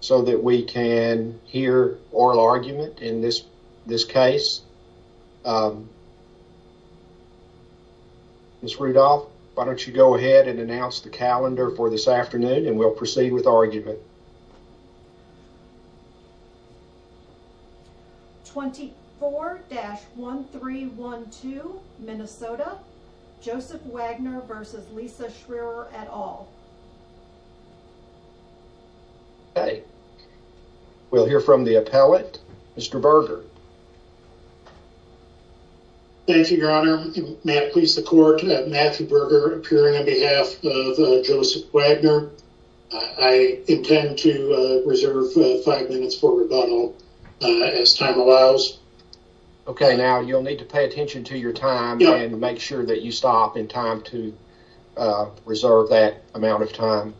So that we can hear oral argument in this this case. Miss Rudolph, why don't you go ahead and announce the calendar for this afternoon and we'll proceed with argument. 24-1312 Minnesota Joseph Wagner versus Lisa Schreier at all. Okay, we'll hear from the appellate. Mr. Berger. Thank you, your honor. May it please the court, Matthew Berger appearing on behalf of Joseph Wagner. I intend to reserve five minutes for rebuttal as time allows. Okay, now you'll need to pay attention to your time and make sure that you stop in time to reserve that amount of time.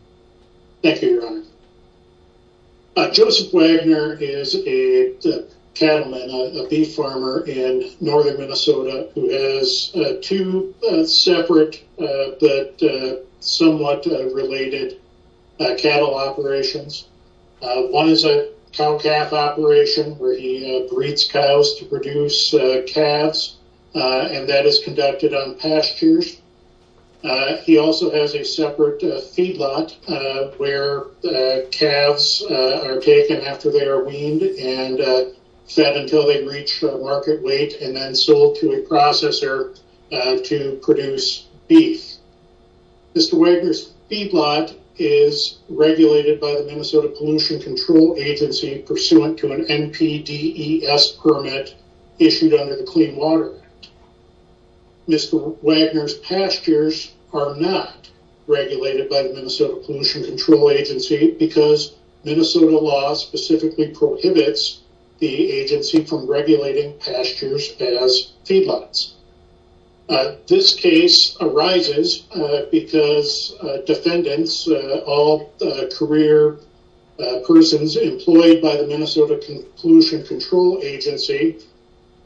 Thank you, your honor. Joseph Wagner is a cattleman, a beef farmer in northern Minnesota who has two separate but somewhat related cattle operations. One is a cow-calf operation where he breeds cows to produce calves and that is conducted on pastures. He also has a separate feedlot where calves are taken after they are weaned and fed until they reach market weight and then sold to a processor to produce beef. Mr. Wagner's feedlot is regulated by the Minnesota Pollution Control Agency pursuant to an NPDES permit issued under the Clean Water Act. Mr. Wagner's feedlot is regulated by the Minnesota Pollution Control Agency because Minnesota law specifically prohibits the agency from regulating pastures as feedlots. This case arises because defendants, all career persons employed by the Minnesota Pollution Control Agency,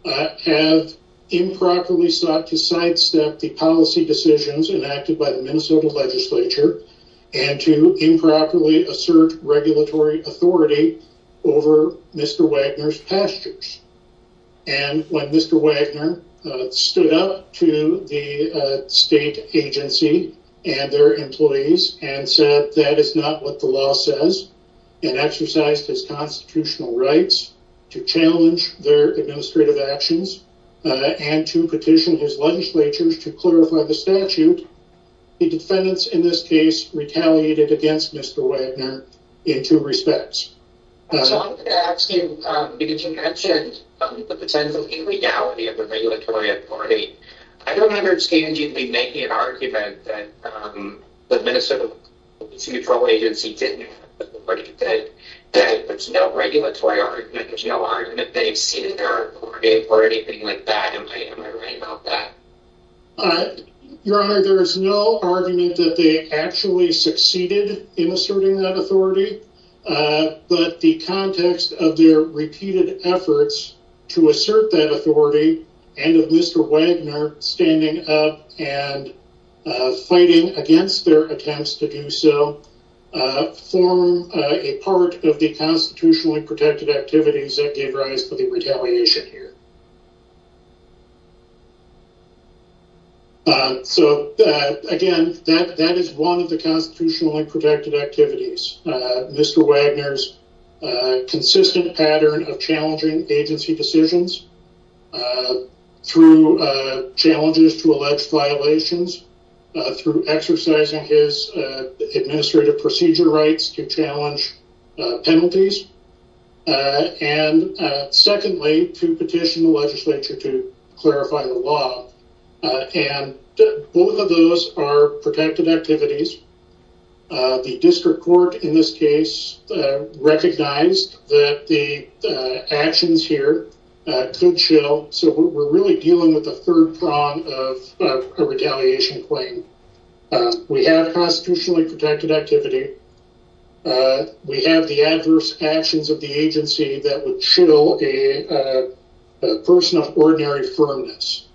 have improperly sought to sidestep the policy decisions enacted by the Minnesota legislature and to improperly assert regulatory authority over Mr. Wagner's pastures. When Mr. Wagner stood up to the state agency and their employees and said that is not what the law says and exercised his constitutional rights to challenge their administrative actions and to petition his legislature to clarify the statute, the defendants in this case retaliated against Mr. Wagner in two respects. So I wanted to ask you because you mentioned the potential illegality of the regulatory authority. I don't remember the state agency making an argument that the Minnesota Pollution Control Agency didn't have an authority, that there's no regulatory argument, there's no argument that they've ceded their authority or anything like that. Am I right about that? Your Honor, there is no argument that they actually succeeded in asserting that authority, but the context of their repeated efforts to assert that authority and of Mr. Wagner standing up and fighting against their attempts to do so form a part of the constitutionally protected activities that gave rise to the retaliation here. So again, that is one of the constitutionally protected activities. Mr. Wagner's consistent pattern of challenging agency decisions through challenges to alleged violations, through exercising his administrative procedure rights to challenge penalties, and secondly to petition the legislature to clarify the law. And both of those are protected activities. The district court in this case recognized that the actions here could chill, so we're really dealing with the third prong of a retaliation claim. We have constitutionally protected activity. We have the adverse actions of the agency that would chill a person of ordinary firmness.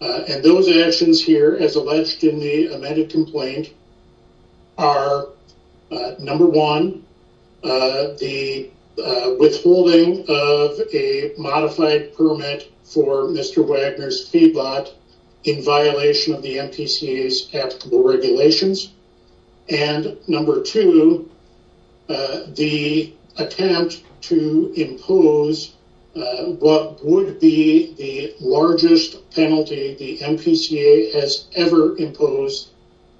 And those actions here, as alleged in the amended complaint, are number one, the withholding of a modified permit for Mr. Wagner's fee bot in violation of the MPCA's applicable regulations, and number two, the attempt to impose what would be the largest penalty the MPCA has ever imposed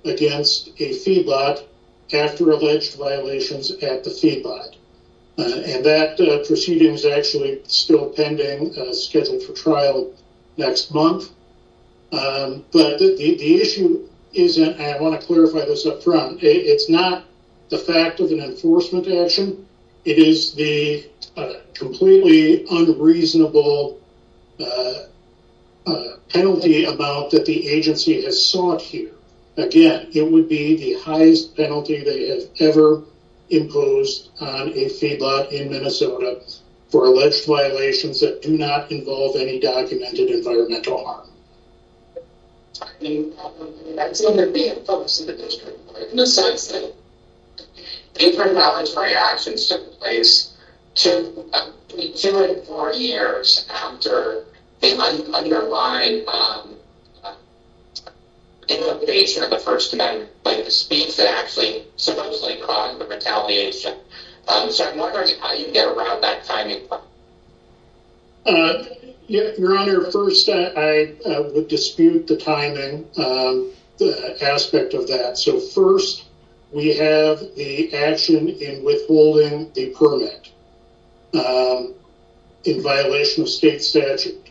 against a fee bot after alleged violations at the fee bot. And that proceeding is actually still pending, scheduled for trial next month. But the issue is, and I want to clarify this up front, it's not the fact of an enforcement action. It is the completely unreasonable penalty amount that the agency has sought here. Again, it would be the highest penalty they have ever imposed on a fee bot in Minnesota for alleged violations that do not involve any documented environmental harm. I mean, that's when they're being opposed to the district court, in the sense that these regulatory actions took place two or four years after the underlying innovation of the first amendment, like the speech that actually supposedly caused the retaliation. So I'm wondering how you get around that timing. Your Honor, first, I would dispute the timing aspect of that. So first, we have the action in withholding the permit in violation of state statute.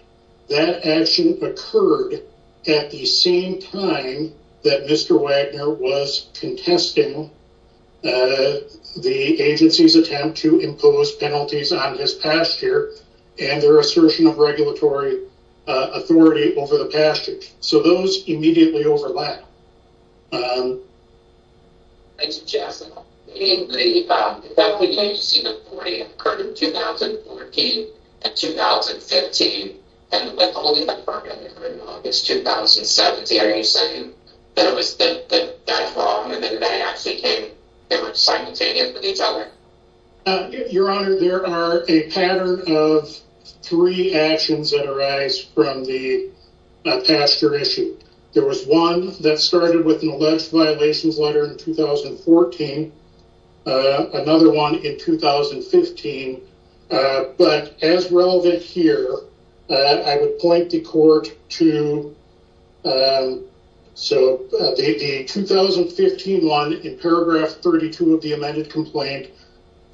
That action occurred at the same time that Mr. Wagner was contesting the agency's attempt to impose penalties on his past year and their assertion of regulatory authority over the past year. So those immediately overlap. I suggest that the agency's authority occurred in 2014 and 2015 and withholding the permit in August 2017. Are you saying that it was the guy's wrong and that they actually came, they were simultaneous with each other? Your Honor, there are a pattern of three actions that arise from the that started with an alleged violations letter in 2014, another one in 2015, but as relevant here, I would point the court to the 2015 one in paragraph 32 of the amended complaint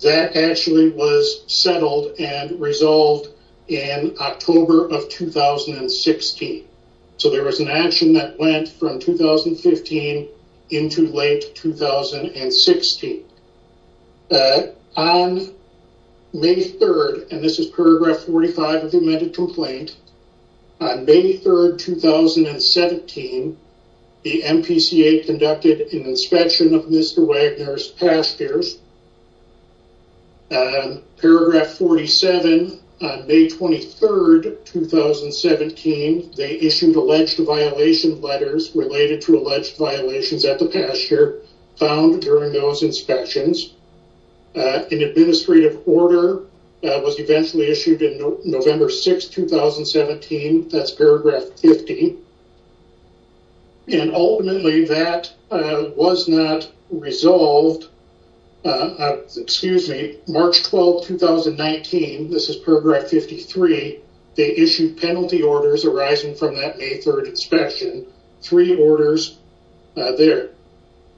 that actually was settled and resolved in October of 2016. So there was an action that went from 2015 into late 2016. On May 3rd, and this is paragraph 45 of the amended complaint, on May 3rd, 2017, the MPCA conducted an inspection of Mr. Wagner's past years. Paragraph 47, May 23rd, 2017, they issued alleged violation letters related to alleged violations at the pasture found during those inspections. An administrative order was eventually issued in November 6th, 2017. That's paragraph 50. And ultimately, that was not resolved excuse me, March 12, 2019, this is paragraph 53, they issued penalty orders arising from that May 3rd inspection, three orders there.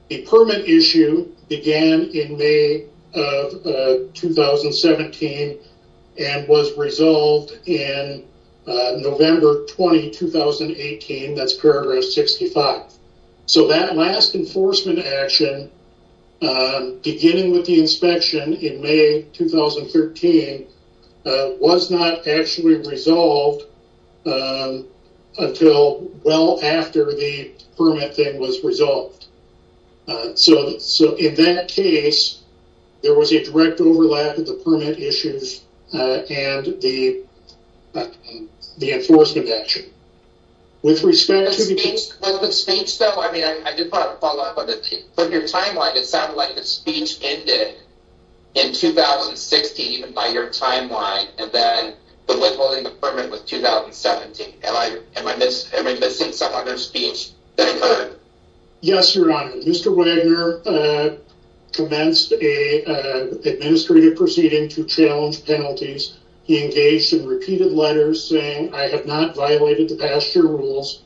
A permit issue began in May of 2017 and was resolved in November 20, 2018. That's paragraph 65. So that last enforcement action, beginning with the inspection in May 2013, was not actually resolved until well after the permit thing was resolved. So in that case, there was a direct overlap of the enforcement action. With respect to the... With the speech though, I mean, I did want to follow up on that. From your timeline, it sounded like the speech ended in 2016, even by your timeline, and then the withholding of the permit was 2017. Am I missing some other speech? Yes, Your Honor. Mr. Wagner commenced an administrative proceeding to challenge penalties. He engaged in repeated letters saying, I have not violated the past year rules.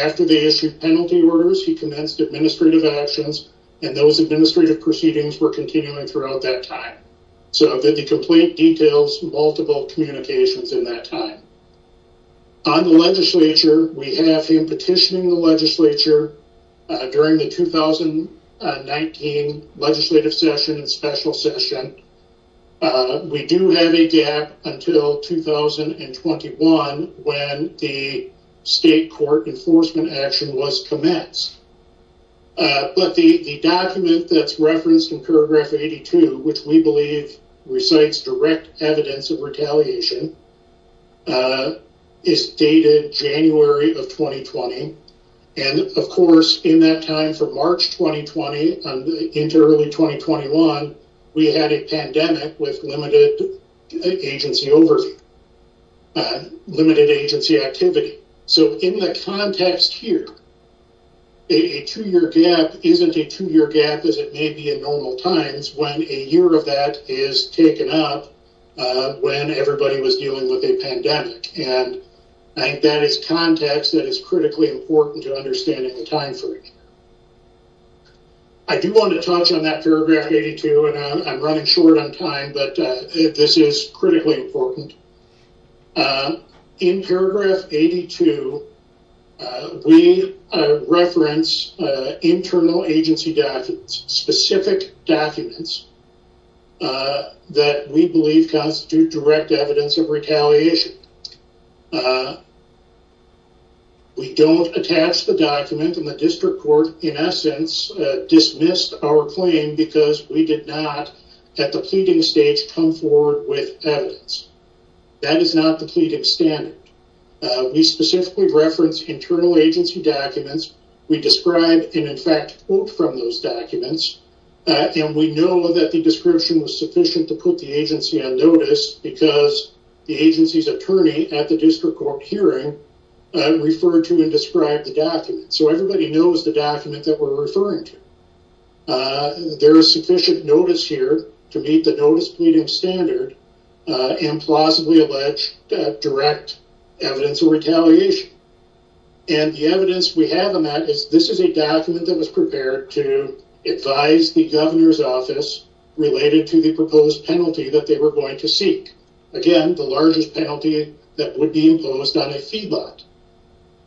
After they issued penalty orders, he commenced administrative actions, and those administrative proceedings were continuing throughout that time. So the complaint details multiple communications in that time. On the legislature, we have him petitioning the legislature during the 2019 legislative session and special session. We do have a gap until 2021, when the state court enforcement action was commenced. But the document that's referenced in paragraph 82, which we believe recites direct evidence of retaliation, is dated January of 2020. And of course, in that time for March 2020, into early 2021, we had a pandemic with limited agency overview, limited agency activity. So in the context here, a two-year gap isn't a two-year gap as it may be in normal times, when a year of that is taken up when everybody was dealing with a pandemic. And that is context that is critically important to understanding the time frame. I do want to touch on that paragraph 82, and I'm running short on time, but this is critically important. In paragraph 82, we reference internal agency documents, specific documents that we believe constitute direct evidence of retaliation. We don't attach the document and the district court, in essence, dismissed our claim because we did not, at the pleading stage, come forward with evidence. That is not the pleading standard. We specifically reference internal agency documents. We describe and in fact quote from those documents. And we know that the description was sufficient to put the agency on notice because the agency's attorney at the district court hearing referred to and described the document. So everybody knows the document that we're referring to. There is sufficient notice here to meet the notice pleading standard and plausibly allege direct evidence of retaliation. And the evidence we have on that is this is a document that was prepared to advise the governor's related to the proposed penalty that they were going to seek. Again, the largest penalty that would be imposed on a fee bot.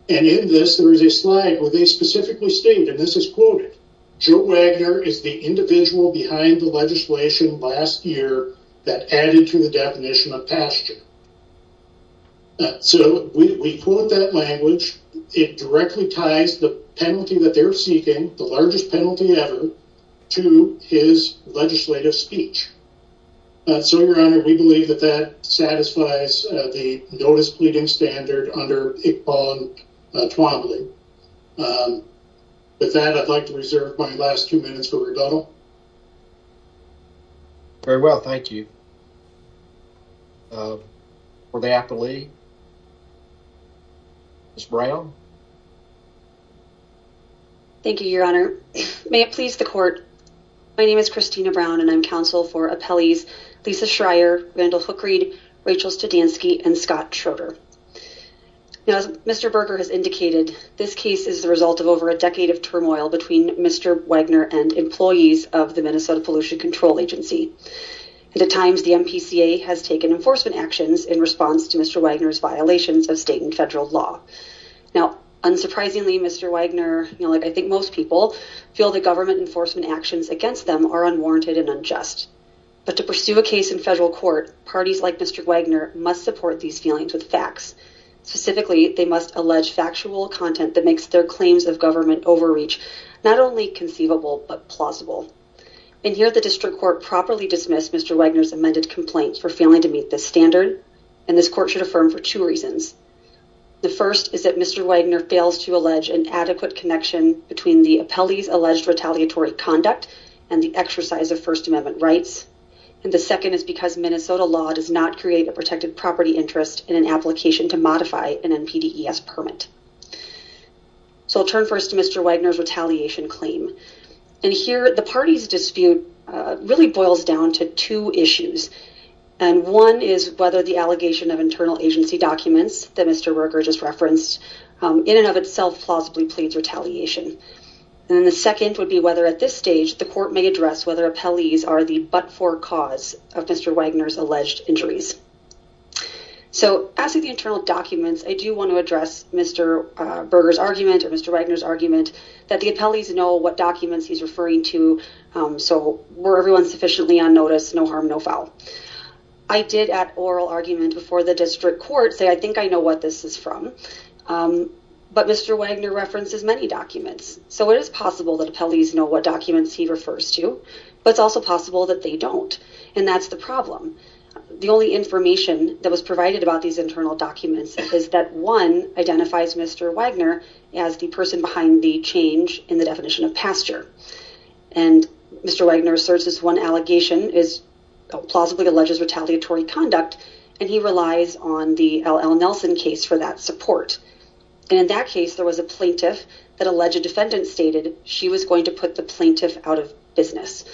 And in this, there is a slide where they specifically state, and this is quoted, Joe Wagner is the individual behind the legislation last year that added to the definition of pasture. So we quote that language. It directly ties the penalty that they're seeking, the largest penalty ever, to his legislative speech. So, your honor, we believe that that satisfies the notice pleading standard under Iqbal Twombly. With that, I'd like to reserve my last two minutes for rebuttal. Very well, thank you. Were they aptly? Ms. Brown? Thank you, your honor. May it please the court. My name is Christina Brown, and I'm counsel for appellees Lisa Schreier, Randall Hookreid, Rachel Studansky, and Scott Schroeder. Now, as Mr. Berger has indicated, this case is the result of over a decade of turmoil between Mr. Wagner and employees of the Minnesota Pollution Control Agency. At times, the MPCA has taken enforcement actions in response to Mr. Wagner's violations of state and federal law. Now, all of those violations unsurprisingly, Mr. Wagner, like I think most people, feel that government enforcement actions against them are unwarranted and unjust. But to pursue a case in federal court, parties like Mr. Wagner must support these feelings with facts. Specifically, they must allege factual content that makes their claims of government overreach not only conceivable, but plausible. And here, the district court properly dismissed Mr. Wagner's amended complaint for failing to meet this standard, and this court should affirm for two reasons. The first is that Mr. Wagner fails to allege an adequate connection between the appellee's alleged retaliatory conduct and the exercise of First Amendment rights. And the second is because Minnesota law does not create a protected property interest in an application to modify an NPDES permit. So, I'll turn first to Mr. Wagner's retaliation claim. And here, the party's dispute really boils down to two issues. And one is whether the allegation of internal agency documents that Mr. Berger just referenced in and of itself plausibly pleads retaliation. And the second would be whether at this stage, the court may address whether appellees are the but-for cause of Mr. Wagner's alleged injuries. So, as to the internal documents, I do want to address Mr. Berger's argument or Mr. Wagner's argument that the appellees know what documents he's referring to. So, were everyone sufficiently on notice, no harm, no foul. I did at oral argument before the district court say, I think I know what this is from, but Mr. Wagner references many documents. So, it is possible that appellees know what documents he refers to, but it's also possible that they don't. And that's the problem. The only information that was provided about these internal documents is that one identifies Mr. Wagner as the person behind the change in the definition of pasture. And Mr. Wagner asserts this one allegation is plausibly alleges retaliatory conduct, and he relies on the L.L. Nelson case for that support. And in that case, there was a plaintiff that alleged defendant stated she was going to put the plaintiff out of business.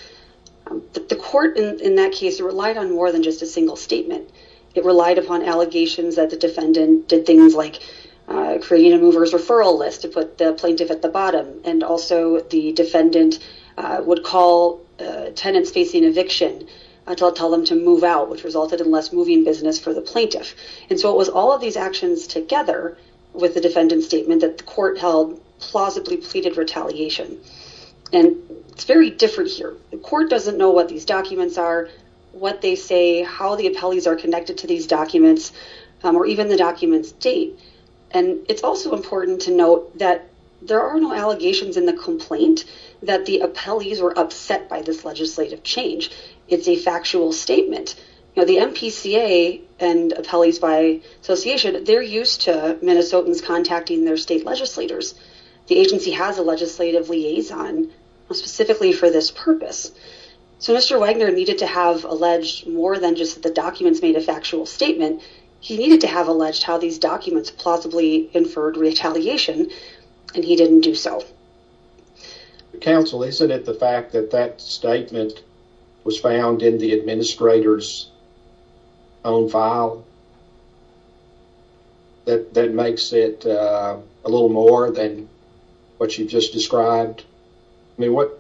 The court in that case relied on more than just a single statement. It relied upon allegations that the defendant did things like creating a mover's referral list to put the plaintiff at the bottom. And also, the defendant would call tenants facing eviction until it told them to move out, which resulted in less moving business for the plaintiff. And so, it was all of these actions together with the defendant's statement that the court held plausibly pleaded retaliation. And it's very different here. The court doesn't know what these documents are, what they say, how the appellees are connected to these documents, or even the documents date. And it's also important to note that there are no allegations in the complaint that the appellees were upset by this legislative change. It's a factual statement. The MPCA and Appellees by Association, they're used to Minnesotans contacting their state legislators. The agency has a legislative liaison specifically for this purpose. So, Mr. Wagner needed to have alleged more than just the documents made a factual statement. He needed to have alleged how these documents plausibly inferred retaliation, and he didn't do so. Counsel, isn't it the fact that that statement was found in the administrator's own file that makes it a little more than what you just described? I mean, what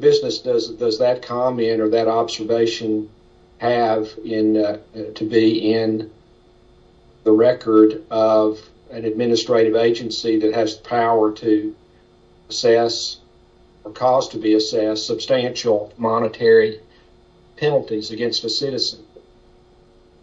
business does that comment or that observation have to be in the record of an administrative agency that has power to assess or cause to be assessed substantial monetary penalties against a citizen?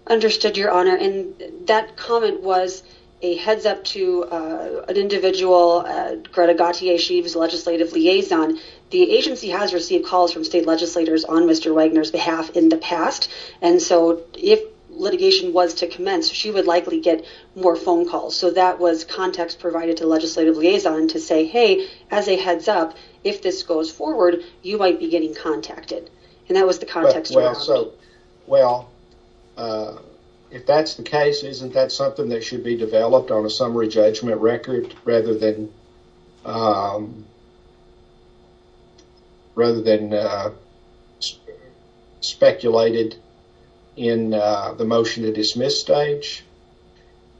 Understood, Your Honor. And that comment was a heads-up to an individual, Greta Gauthier-Sheaves, legislative liaison. The agency has received calls from state legislators on Mr. Wagner's behalf in the past. And so, if litigation was to commence, she would likely get more phone calls. So, that was context provided to legislative liaison to say, hey, as a heads-up, if this goes forward, you might be getting contacted. And that was the context, Your Honor. So, well, if that's the case, isn't that something that should be developed on a rather than speculated in the motion to dismiss stage?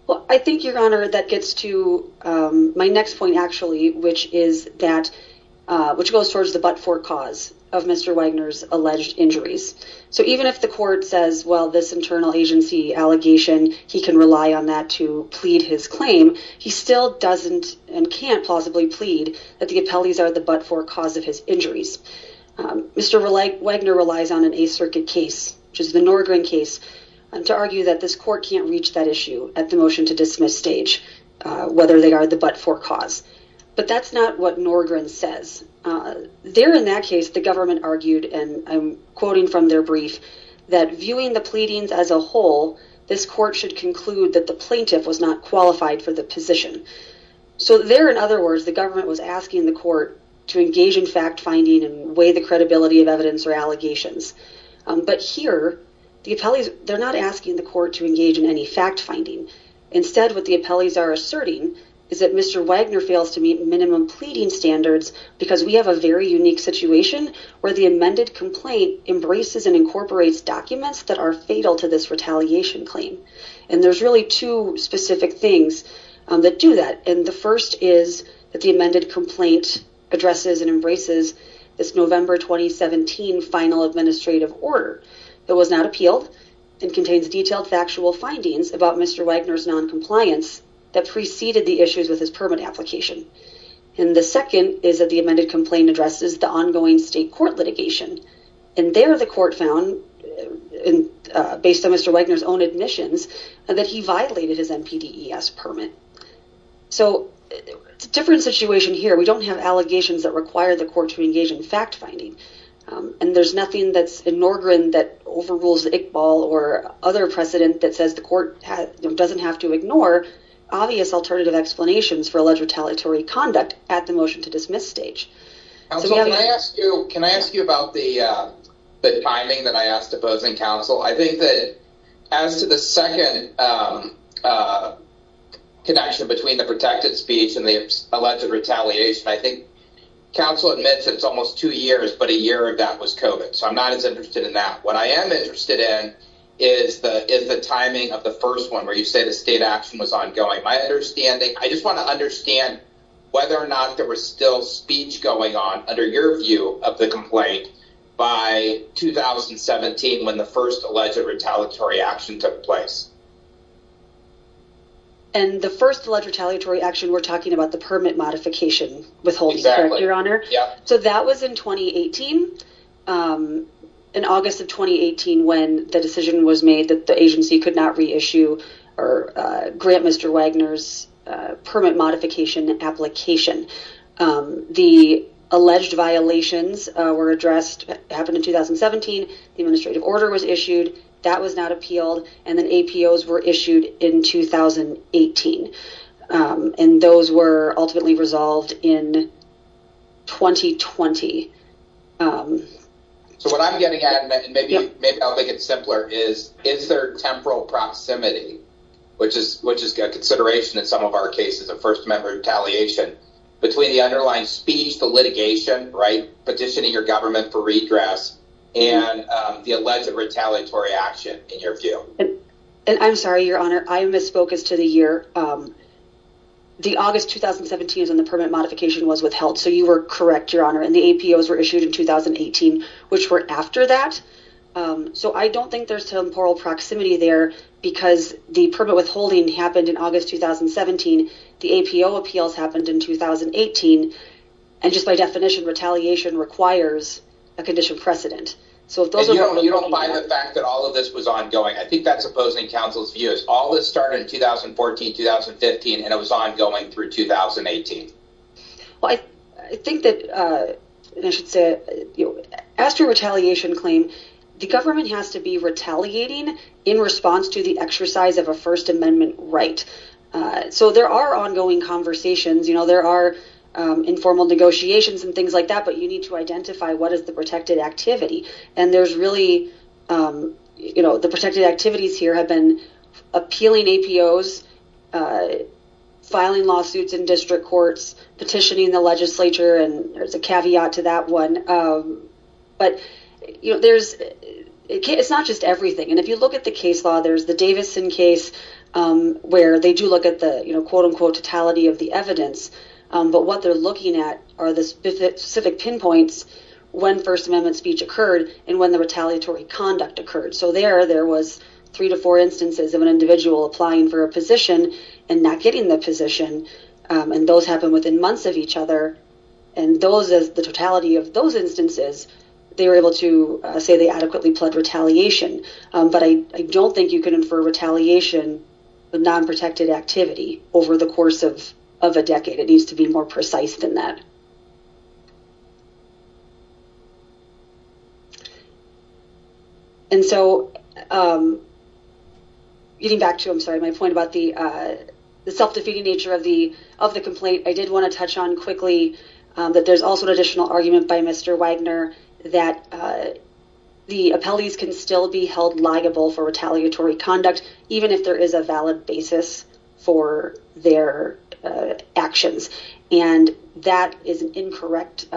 Well, I think, Your Honor, that gets to my next point, actually, which is that, which goes towards the but-for cause of Mr. Wagner's alleged injuries. So, even if the court says, well, this internal agency allegation, he can rely on that to plead his claim, he still doesn't and can't plausibly plead that the appellees are the but-for cause of his injuries. Mr. Wagner relies on an Eighth Circuit case, which is the Norgren case, to argue that this court can't reach that issue at the motion to dismiss stage, whether they are the but-for cause. But that's not what Norgren says. There, in that case, the government argued, and I'm quoting from their brief, that, viewing the pleadings as a whole, this court should conclude that the plaintiff was not qualified for the position. So there, in other words, the government was asking the court to engage in fact-finding and weigh the credibility of evidence or allegations. But here, the appellees, they're not asking the court to engage in any fact-finding. Instead, what the appellees are asserting is that Mr. Wagner fails to meet minimum pleading standards because we have a very unique situation where the amended complaint embraces and incorporates documents that are fatal to this retaliation claim. And there's really two specific things that do that. And the first is that the amended complaint addresses and embraces this November 2017 final administrative order that was not appealed and contains detailed factual findings about Mr. Wagner's noncompliance that preceded the issues with his permit application. And the second is that the amended complaint addresses the ongoing state court litigation. And there, the court found, based on Mr. Wagner's own admissions, that he violated his NPDES permit. So it's a different situation here. We don't have allegations that require the court to engage in fact-finding. And there's nothing that's in Norgren that overrules Iqbal or other precedent that says the court doesn't have to ignore obvious alternative explanations for alleged retaliatory conduct at the motion to dismiss stage. Can I ask you about the timing that I asked opposing counsel? I think that as to the second connection between the protected speech and the alleged retaliation, I think counsel admits it's almost two years, but a year of that was COVID. So I'm not as interested in that. What I am interested in is the timing of the first one where you say the state action was ongoing. My understanding, I just want to understand whether or not there was still speech going on under your view of the complaint by 2017 when the first alleged retaliatory action took place. And the first alleged retaliatory action, we're talking about the permit modification withholding, correct, Your Honor? Yeah. So that was in 2018, in August of 2018, when the decision was made that the agency could not reissue or grant Mr. Wagner's permit modification application. The alleged violations were addressed, happened in 2017. The administrative order was issued. That was not appealed. And then APOs were issued in 2018. And those were ultimately resolved in 2020. So what I'm getting at, and maybe I'll make it simpler, is is there temporal proximity, which is a consideration in some of our cases of First Amendment retaliation, between the underlying speech, the litigation, petitioning your government for redress, and the alleged retaliatory action in your view? And I'm sorry, Your Honor, I misspoke as to the year. The August 2017 is when the permit modification was withheld. So you were correct, Your Honor, and the APOs were issued in 2018, which were after that. So I don't think there's temporal proximity there, because the permit withholding happened in August 2017. The APO appeals happened in 2018. And just by definition, retaliation requires a condition precedent. So if those are... And you don't buy the fact that all of this was ongoing. I think that's opposing counsel's view. All this started in 2014, 2015, and it was ongoing through 2018. Well, I think that, I should say, after a retaliation claim, the government has to be retaliating in response to the exercise of a First Amendment right. So there are ongoing conversations. There are informal negotiations and things like that. But you need to identify what is the protected activity. And there's really... The protected activities here have been appealing APOs, filing lawsuits in district courts, petitioning the legislature, and there's a caveat to that one. But it's not just everything. And if you look at the case law, there's the Davidson case, where they do look at the, quote unquote, totality of the evidence. But what they're looking at are the specific pinpoints when First Amendment speech occurred and when the retaliatory conduct occurred. So there, there was three to four instances of an individual applying for a position and not getting the position. And those happened within months of each other. And those, the totality of those instances, they were able to say they adequately pled retaliation. But I don't think you can infer retaliation with non-protected activity over the decade. It needs to be more precise than that. And so getting back to, I'm sorry, my point about the self-defeating nature of the complaint, I did want to touch on quickly that there's also an additional argument by Mr. Wagner that the appellees can still be held liable for retaliatory conduct, even if there is a valid basis for their actions. And that is an incorrect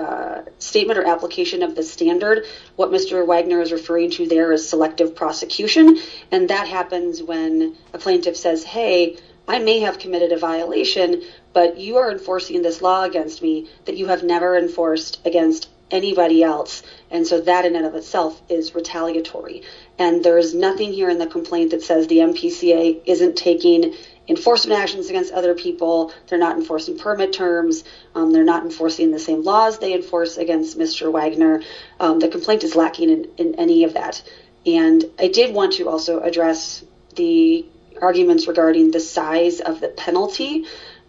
statement or application of the standard. What Mr. Wagner is referring to there is selective prosecution. And that happens when a plaintiff says, hey, I may have committed a violation, but you are enforcing this law against me that you have never enforced against anybody else. And so that in and of itself is retaliatory. And there's nothing here in the complaint that says the MPCA isn't taking enforcement actions against other people. They're not enforcing permit terms. They're not enforcing the same laws they enforce against Mr. Wagner. The complaint is lacking in any of that. And I did want to also address the arguments regarding the size of the penalty.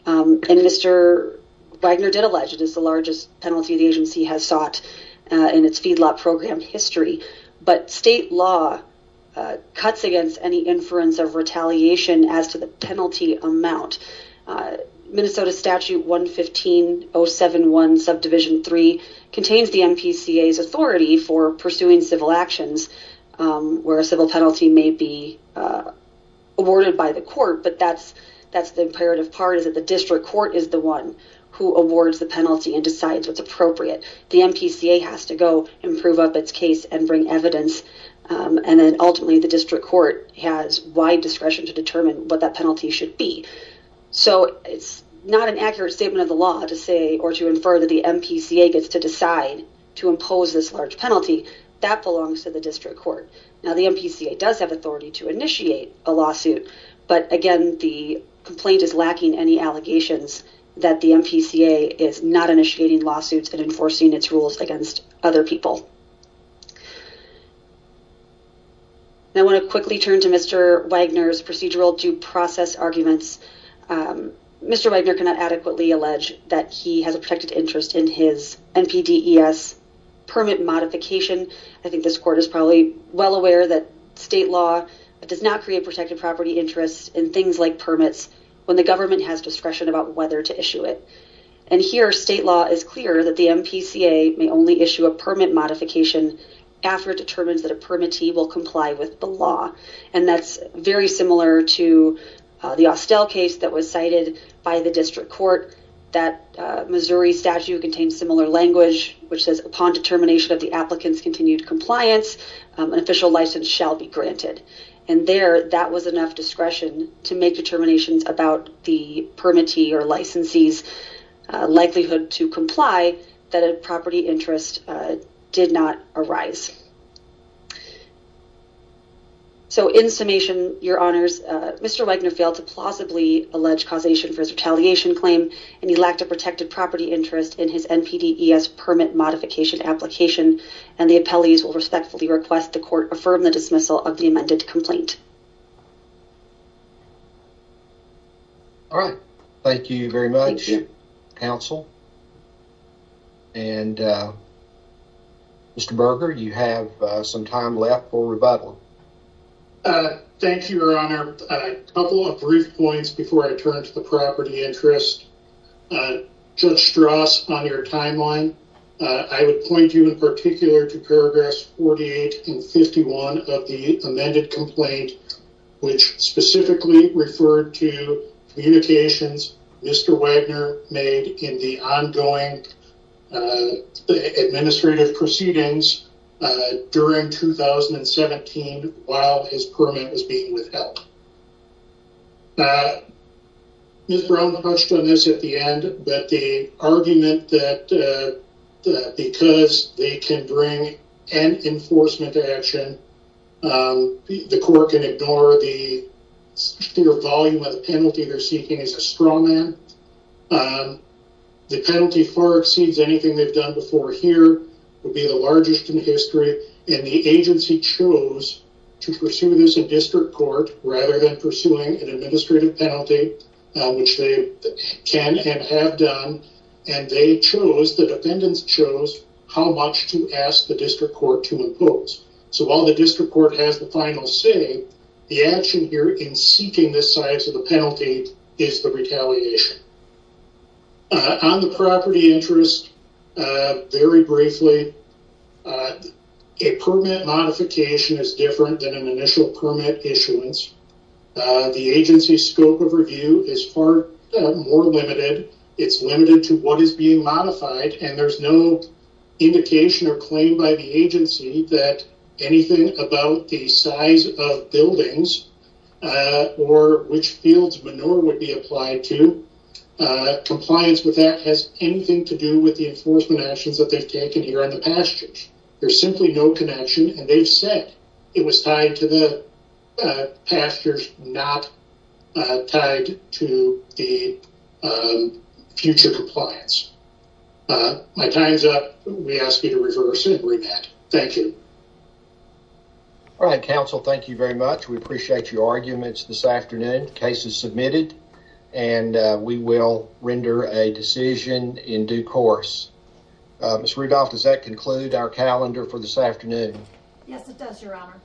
And Mr. Wagner did allege it is the largest penalty the agency has sought in its feedlot program history, but state law cuts against any inference of retaliation as to the penalty amount. Minnesota Statute 115-071 Subdivision 3 contains the MPCA's authority for pursuing civil actions where a civil penalty may be awarded by the court. But that's the imperative part is that district court is the one who awards the penalty and decides what's appropriate. The MPCA has to go improve up its case and bring evidence. And then ultimately the district court has wide discretion to determine what that penalty should be. So it's not an accurate statement of the law to say or to infer that the MPCA gets to decide to impose this large penalty that belongs to the district court. Now the MPCA does have authority to initiate a lawsuit, but again, the complaint is lacking any allegations that the MPCA is not initiating lawsuits and enforcing its rules against other people. I want to quickly turn to Mr. Wagner's procedural due process arguments. Mr. Wagner cannot adequately allege that he has a protected interest in his NPDES permit modification. I think this court is probably well aware that it does not create protected property interests in things like permits when the government has discretion about whether to issue it. And here state law is clear that the MPCA may only issue a permit modification after it determines that a permittee will comply with the law. And that's very similar to the Austell case that was cited by the district court that Missouri statute contains similar language, which says upon determination of the applicant's continued compliance, an official license shall be granted. And there, that was enough discretion to make determinations about the permittee or licensee's likelihood to comply that a property interest did not arise. So in summation, your honors, Mr. Wagner failed to plausibly allege causation for his retaliation claim and he lacked a protected property interest in his NPDES permit modification application. And the appellees will respectfully request the court affirm the dismissal of the amended complaint. All right. Thank you very much counsel. And Mr. Berger, you have some time left for rebuttal. Thank you, your honor. A couple of brief points before I turn to the property interest. Judge Strauss, on your timeline, I would point you in particular to paragraphs 48 and 51 of the amended complaint, which specifically referred to communications Mr. Wagner made in the ongoing administrative proceedings during 2017 while his permit was being withheld. Ms. Brown hushed on this at the end, but the argument that because they can bring an enforcement action, the court can ignore the sheer volume of the penalty they're seeking is a straw man. The penalty far exceeds anything they've done before here, would be the largest in history, and the agency chose to pursue this in district court rather than pursuing an administrative penalty, which they can and have done. And they chose, the defendants chose, how much to ask the district court to impose. So while the district court has the final say, the action here in seeking this size of the penalty is the retaliation. On the property interest, very briefly, a permit modification is different than an initial permit issuance. The agency's scope of review is far more limited. It's limited to what is being modified, and there's no indication or claim by the agency that anything about the size of buildings or which fields manure would be applied to. Compliance with that has anything to do with the enforcement actions that they've taken here on the pastures. There's simply no connection, and they've said it was tied to the pastures, not tied to the future compliance. My time's up. We ask you to reverse and remand. Thank you. All right, counsel. Thank you very much. We appreciate your arguments this afternoon. Case is submitted, and we will render a decision in due course. Ms. Rudolph, does that conclude our calendar for this afternoon? Yes, it does, your honor.